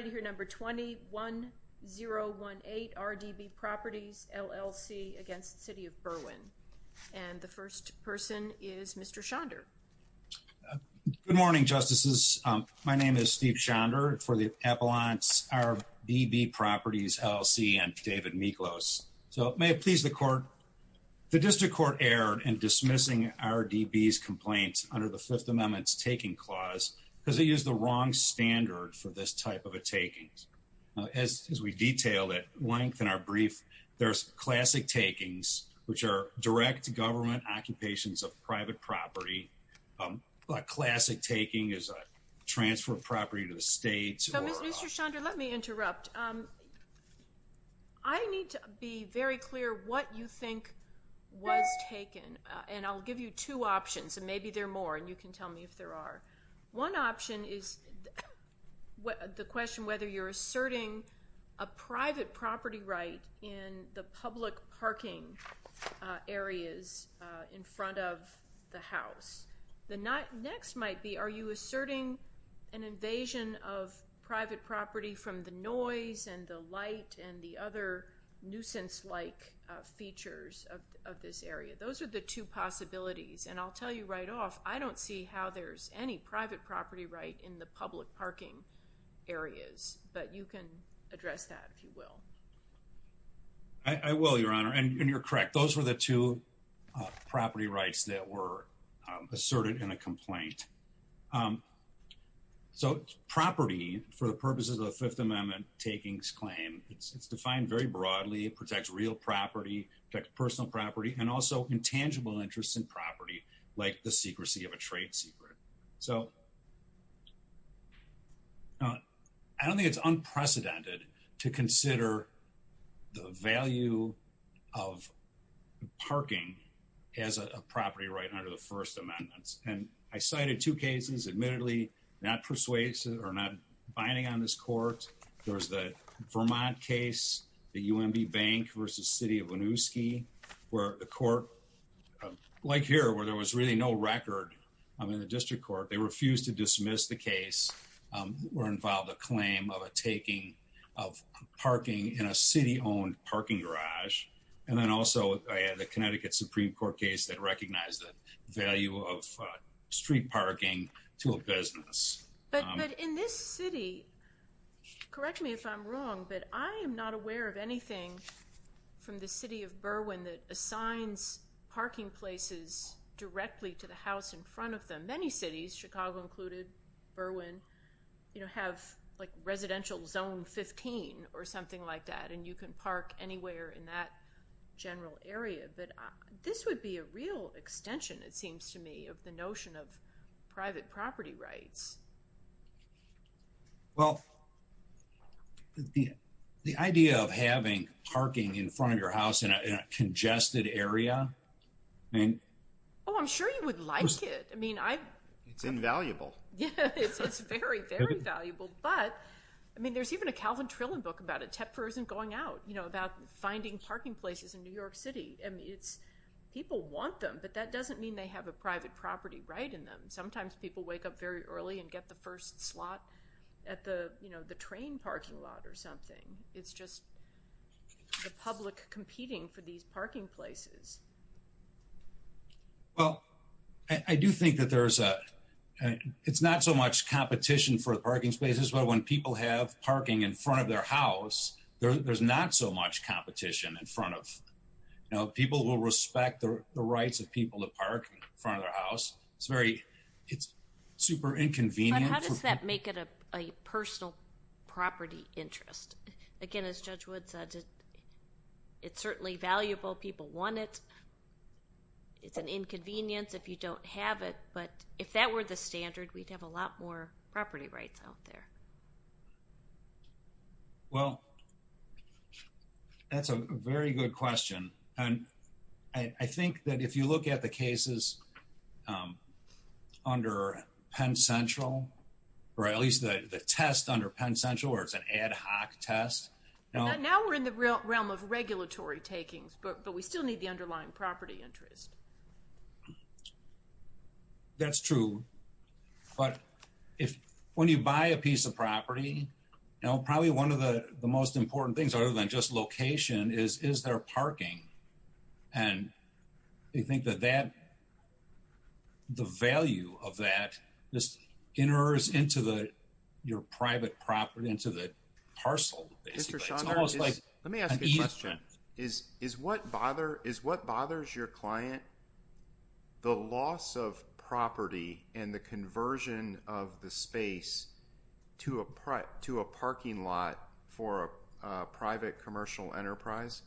20-1018 RDB Properties, LLC v. City of Berwyn Mr. Schonder Good morning, Justices. My name is Steve Schonder for the Appellants, RDB Properties, LLC and David Miklos. So, may it please the Court, the District Court erred in dismissing RDB's complaints under the Fifth Amendment's Taking Clause because it used the wrong standard for this type of a taking. As we detailed at length in our brief, there's classic takings, which are direct government occupations of private property. A classic taking is a transfer of property to the state. So, Mr. Schonder, let me interrupt. I need to be very clear what you think was taken. And I'll give you two options, and maybe there are more, and you can tell me if there are. One option is the question whether you're asserting a private property right in the public parking areas in front of the house. The next might be, are you asserting an invasion of private property from the noise and the light and the other nuisance-like features of this area? Those are the two possibilities, and I'll tell you right off, I don't see how there's any private property right in the public parking areas. But you can address that, if you will. I will, Your Honor, and you're correct. Those were the two property rights that were asserted in a complaint. So, property, for the purposes of the Fifth Amendment takings claim, it's defined very broadly. It protects real property, protects personal property, and also intangible interests in property, like the secrecy of a trade secret. So, I don't think it's unprecedented to consider the value of parking as a property right under the First Amendment. And I cited two cases, admittedly, not persuasive or not binding on this court. There was the Vermont case, the UMB Bank v. City of Winooski, where the court, like here, where there was really no record in the district court, they refused to dismiss the case, were involved a claim of a taking of parking in a city-owned parking garage. And then also, I had the Connecticut Supreme Court case that recognized the value of street parking to a business. But in this city, correct me if I'm wrong, but I am not aware of anything from the city of Berwyn that assigns parking places directly to the house in front of them. Many cities, Chicago included, Berwyn, you know, have like residential zone 15 or something like that, and you can park anywhere in that general area. But this would be a real extension, it seems to me, of the notion of private property rights. Well, the idea of having parking in front of your house in a congested area, I mean... Oh, I'm sure you would like it. I mean, I... It's invaluable. Yeah, it's very, very valuable. But, I mean, there's even a Calvin Trillin book about it. Tepfer isn't going out, you know, about finding parking places in New York City. I mean, people want them, but that doesn't mean they have a private property right in them. Sometimes people wake up very early and get the first slot at the, you know, the train parking lot or something. It's just the public competing for these parking places. Well, I do think that there's a... It's not so much competition for the parking spaces, but when people have parking in front of their house, there's not so much competition in front of... You know, people will respect the rights of people to park in front of their house. It's very... It's super inconvenient. But how does that make it a personal property interest? Again, as Judge Wood said, it's certainly valuable. People want it. It's an inconvenience if you don't have it, but if that were the standard, we'd have a lot more property rights out there. Well, that's a very good question. I think that if you look at the cases under Penn Central, or at least the test under Penn Central, where it's an ad hoc test... Now we're in the realm of regulatory takings, but we still need the underlying property interest. That's true. But when you buy a piece of property, probably one of the most important things other than just location is, is there parking? And I think that the value of that just enters into your private property, into the parcel, basically. Let me ask you a question. Is what bothers your client the loss of property and the conversion of the space to a parking lot for a private commercial enterprise?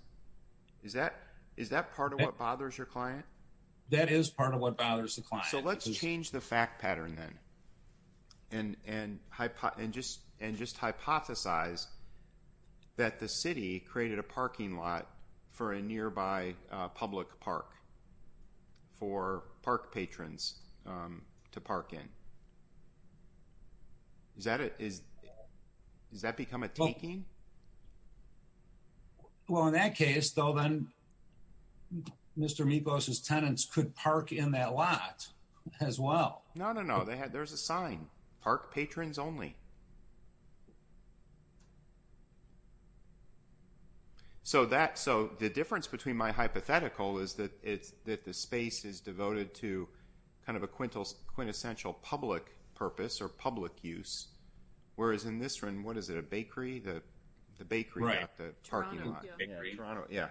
Is that part of what bothers your client? That is part of what bothers the client. So let's change the fact pattern, then, and just hypothesize that the city created a parking lot for a nearby public park for park patrons to park in. Does that become a taking? Well, in that case, though, then, Mr. Mekos' tenants could park in that lot as well. No, no, no. There's a sign. Park patrons only. So the difference between my hypothetical is that the space is devoted to kind of a quintessential public purpose or public use. Whereas in this one, what is it, a bakery? The bakery got the parking lot. Toronto, yeah.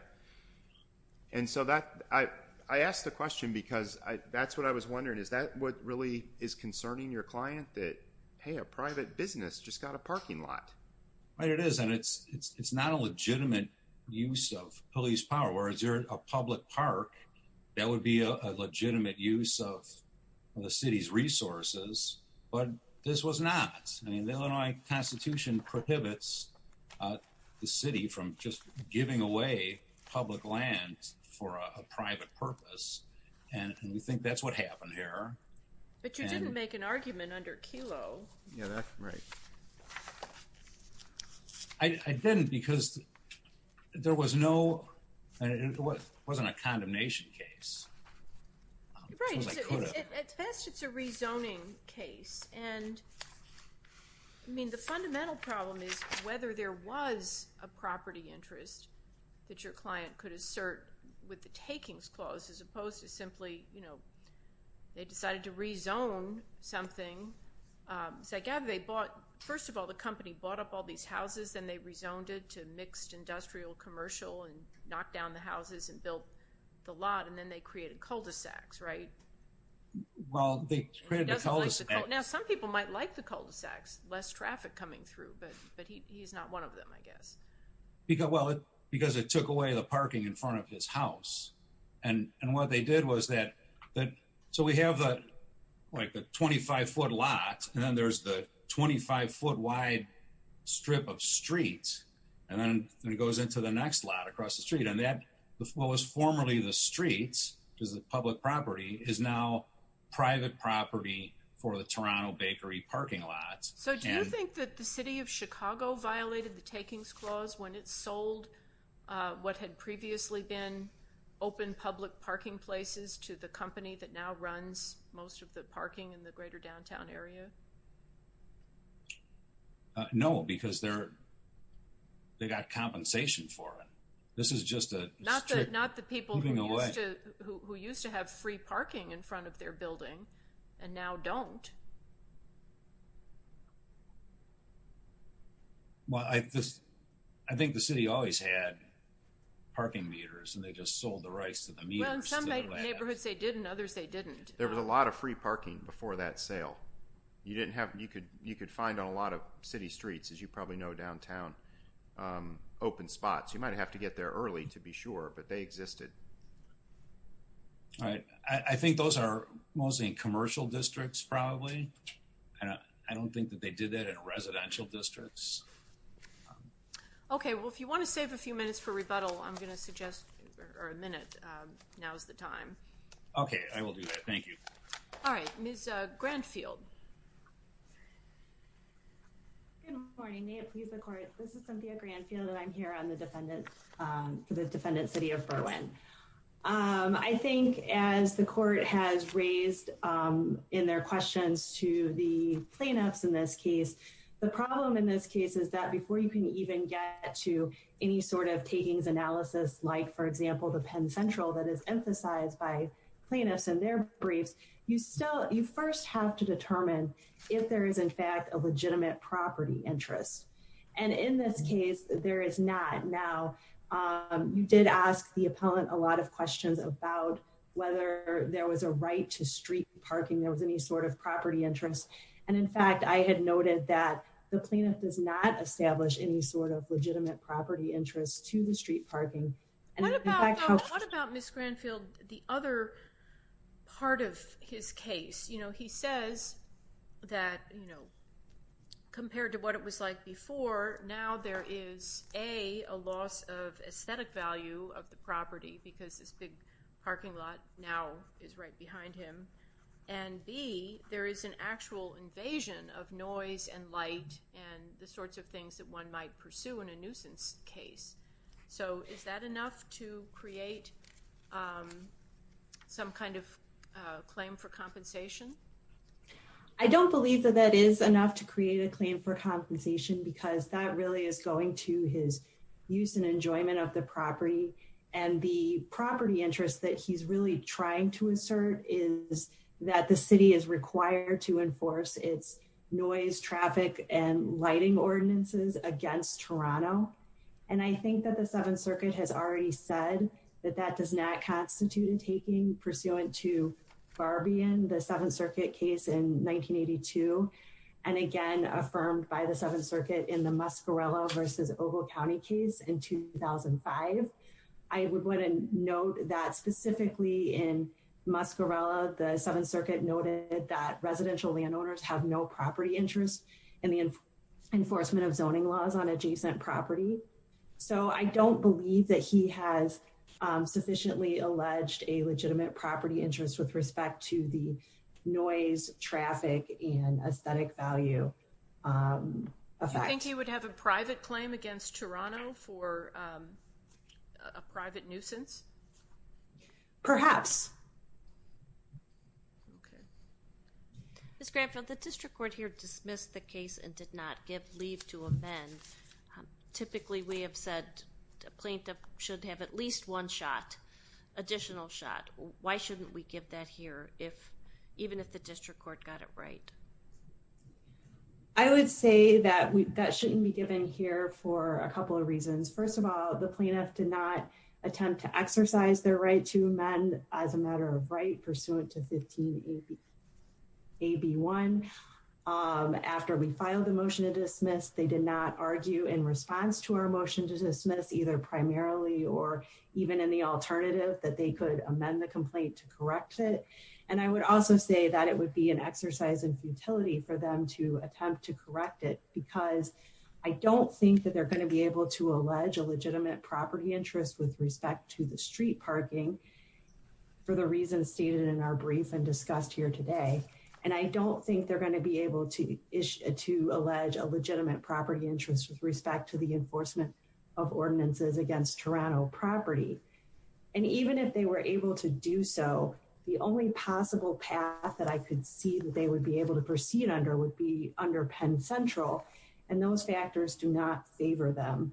And so I asked the question because that's what I was wondering. Is that what really is concerning your client, that, hey, a private business just got a parking lot? Right, it is. And it's not a legitimate use of police power. In other words, a public park, that would be a legitimate use of the city's resources. But this was not. I mean, the Illinois Constitution prohibits the city from just giving away public land for a private purpose. And we think that's what happened here. But you didn't make an argument under Kelo. Yeah, that's right. I didn't because there was no. It wasn't a condemnation case. Right. At best, it's a rezoning case. And, I mean, the fundamental problem is whether there was a property interest that your client could assert with the takings clause, as opposed to simply, you know, they decided to rezone something. So I gather they bought, first of all, the company bought up all these houses, then they rezoned it to mixed industrial commercial and knocked down the houses and built the lot, and then they created cul-de-sacs, right? Well, they created the cul-de-sacs. Now, some people might like the cul-de-sacs, less traffic coming through. But he's not one of them, I guess. Well, because it took away the parking in front of his house. And what they did was that, so we have, like, the 25-foot lot, and then there's the 25-foot-wide strip of streets, and then it goes into the next lot across the street. And that was formerly the streets because the public property is now private property for the Toronto bakery parking lots. So do you think that the city of Chicago violated the takings clause when it sold what had previously been open public parking places to the company that now runs most of the parking in the greater downtown area? No, because they got compensation for it. This is just a strip moving away. Not the people who used to have free parking in front of their building and now don't. Well, I think the city always had parking meters, and they just sold the rights to the meters. Well, some neighborhoods say didn't, others say didn't. There was a lot of free parking before that sale. You could find on a lot of city streets, as you probably know, downtown, open spots. You might have to get there early to be sure, but they existed. I think those are mostly commercial districts, probably. I don't think that they did that in residential districts. Okay, well, if you want to save a few minutes for rebuttal, I'm going to suggest a minute. Now's the time. Okay, I will do that. Thank you. All right, Ms. Granfield. Good morning. May it please the court. This is Cynthia Granfield, and I'm here for the defendant's city of Berwyn. I think as the court has raised in their questions to the plaintiffs in this case, the problem in this case is that before you can even get to any sort of takings analysis, like, for example, the Penn Central that is emphasized by plaintiffs in their briefs, you first have to determine if there is, in fact, a legitimate property interest. And in this case, there is not. Now, you did ask the appellant a lot of questions about whether there was a right to street parking. There was any sort of property interest. And in fact, I had noted that the plaintiff does not establish any sort of legitimate property interest to the street parking. What about Ms. Granfield, the other part of his case? You know, he says that, you know, compared to what it was like before, now there is, A, a loss of aesthetic value of the property because this big parking lot now is right behind him, and, B, there is an actual invasion of noise and light and the sorts of things that one might pursue in a nuisance case. So is that enough to create some kind of claim for compensation? I don't believe that that is enough to create a claim for compensation because that really is going to his use and enjoyment of the property. And the property interest that he's really trying to assert is that the city is required to enforce its noise, traffic, and lighting ordinances against Toronto. And I think that the 7th Circuit has already said that that does not constitute in taking pursuant to Barbian, the 7th Circuit case in 1982, and again affirmed by the 7th Circuit in the Muscarella versus Ogle County case in 2005. I would want to note that specifically in Muscarella, the 7th Circuit noted that residential landowners have no property interest in the enforcement of zoning laws on adjacent property. So I don't believe that he has sufficiently alleged a legitimate property interest with respect to the noise, traffic, and aesthetic value effect. Do you think he would have a private claim against Toronto for a private nuisance? Perhaps. Okay. Ms. Granfield, the district court here dismissed the case and did not give leave to amend. Typically, we have said a plaintiff should have at least one shot, additional shot. Why shouldn't we give that here, even if the district court got it right? I would say that that shouldn't be given here for a couple of reasons. First of all, the plaintiff did not attempt to exercise their right to amend as a matter of right pursuant to 15AB1. After we filed the motion to dismiss, they did not argue in response to our motion to dismiss, either primarily or even in the alternative, that they could amend the complaint to correct it. And I would also say that it would be an exercise in futility for them to attempt to correct it because I don't think that they're going to be able to allege a legitimate property interest with respect to the street parking for the reasons stated in our brief and discussed here today. And I don't think they're going to be able to allege a legitimate property interest with respect to the enforcement of ordinances against Toronto property. And even if they were able to do so, the only possible path that I could see that they would be able to proceed under would be under Penn Central. And those factors do not favor them.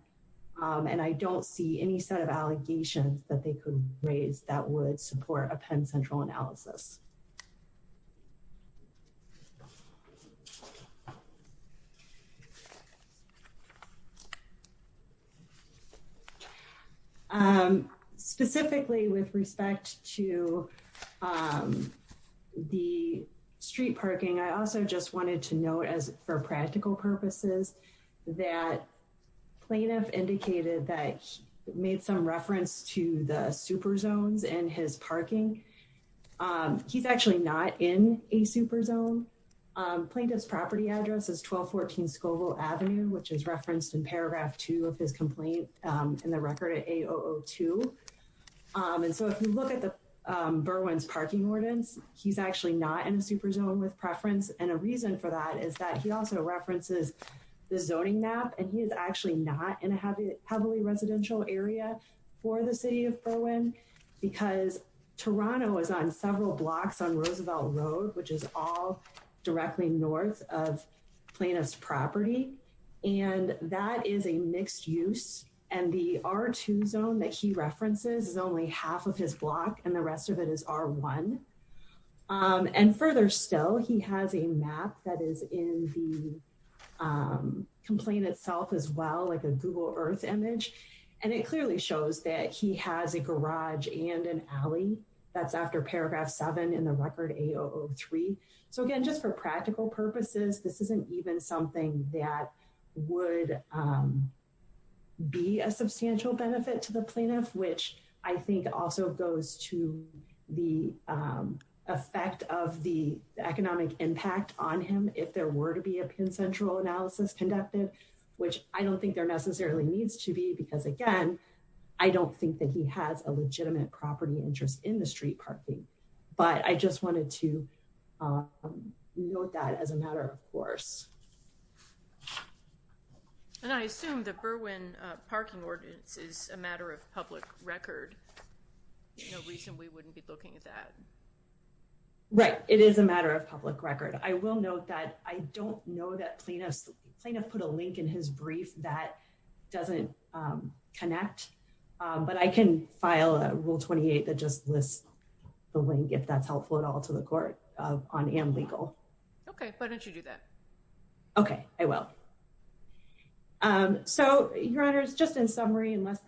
And I don't see any set of allegations that they could raise that would support a Penn Central analysis. Specifically with respect to the street parking, I also just wanted to note as for practical purposes, that plaintiff indicated that he made some reference to the super zones in his parking. He's actually not in a super zone. Plaintiff's property address is 1214 Scoville Avenue, which is referenced in paragraph two of his complaint in the record at A002. And so if you look at the Berwyn's parking ordinance, he's actually not in a super zone with preference. And a reason for that is that he also references the zoning map and he is actually not in a heavily residential area for the city of Berwyn because Toronto is on several blocks on Roosevelt Road, which is all directly north of plaintiff's property. And that is a mixed use and the R2 zone that he references is only half of his block and the rest of it is R1. And further still, he has a map that is in the complaint itself as well, like a Google Earth image. And it clearly shows that he has a garage and an alley that's after paragraph seven in the record A003. So again, just for practical purposes, this isn't even something that would be a substantial benefit to the plaintiff, which I think also goes to the effect of the economic impact on him if there were to be a consensual analysis conducted, which I don't think there necessarily needs to be because, again, I don't think that he has a legitimate property interest in the street parking. But I just wanted to note that as a matter of course. And I assume the Berwyn parking ordinance is a matter of public record. No reason we wouldn't be looking at that. Right. It is a matter of public record. I will note that I don't know that plaintiff put a link in his brief that doesn't connect, but I can file a rule 28 that just lists the link, if that's helpful at all to the court on am legal. OK, why don't you do that? OK, I will. So, Your Honors, just in summary, unless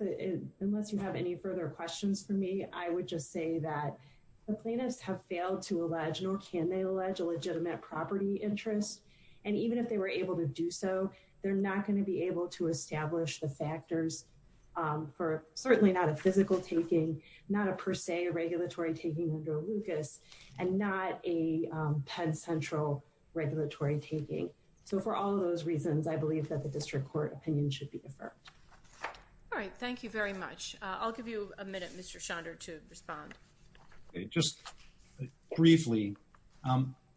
you have any further questions for me, I would just say that the plaintiffs have failed to allege nor can they allege a legitimate property interest. And even if they were able to do so, they're not going to be able to establish the factors for certainly not a physical taking, not a per se regulatory taking under Lucas and not a Penn Central regulatory taking. So for all of those reasons, I believe that the district court opinion should be deferred. All right. Thank you very much. I'll give you a minute. Mr. Chandra to respond just briefly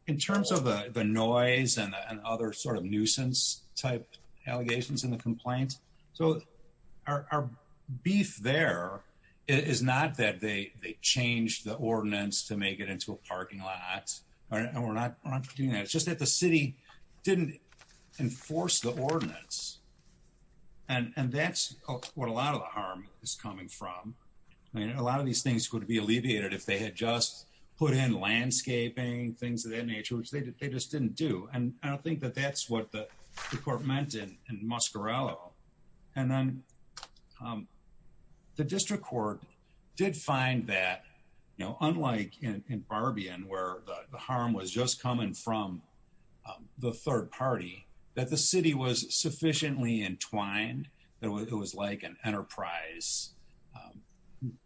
in terms of the noise and other sort of nuisance type allegations in the complaint. So our beef there is not that they changed the ordinance to make it into a parking lot. We're not doing that. It's just that the city didn't enforce the ordinance. And that's what a lot of the harm is coming from. I mean, a lot of these things could be alleviated if they had just put in landscaping, things of that nature, which they just didn't do. And I don't think that that's what the court meant in Muscarello. And then the district court did find that, you know, unlike in Barbian, where the harm was just coming from the third party, that the city was sufficiently entwined that it was like an enterprise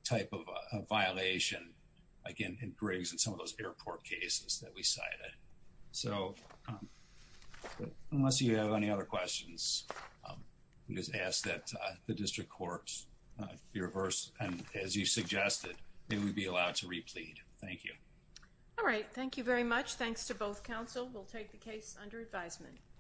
type of a violation, again, in Griggs and some of those airport cases that we cited. So unless you have any other questions, just ask that the district courts be reversed. And as you suggested, they would be allowed to replead. Thank you. All right. Thank you very much. Thanks to both counsel. We'll take the case under advisement.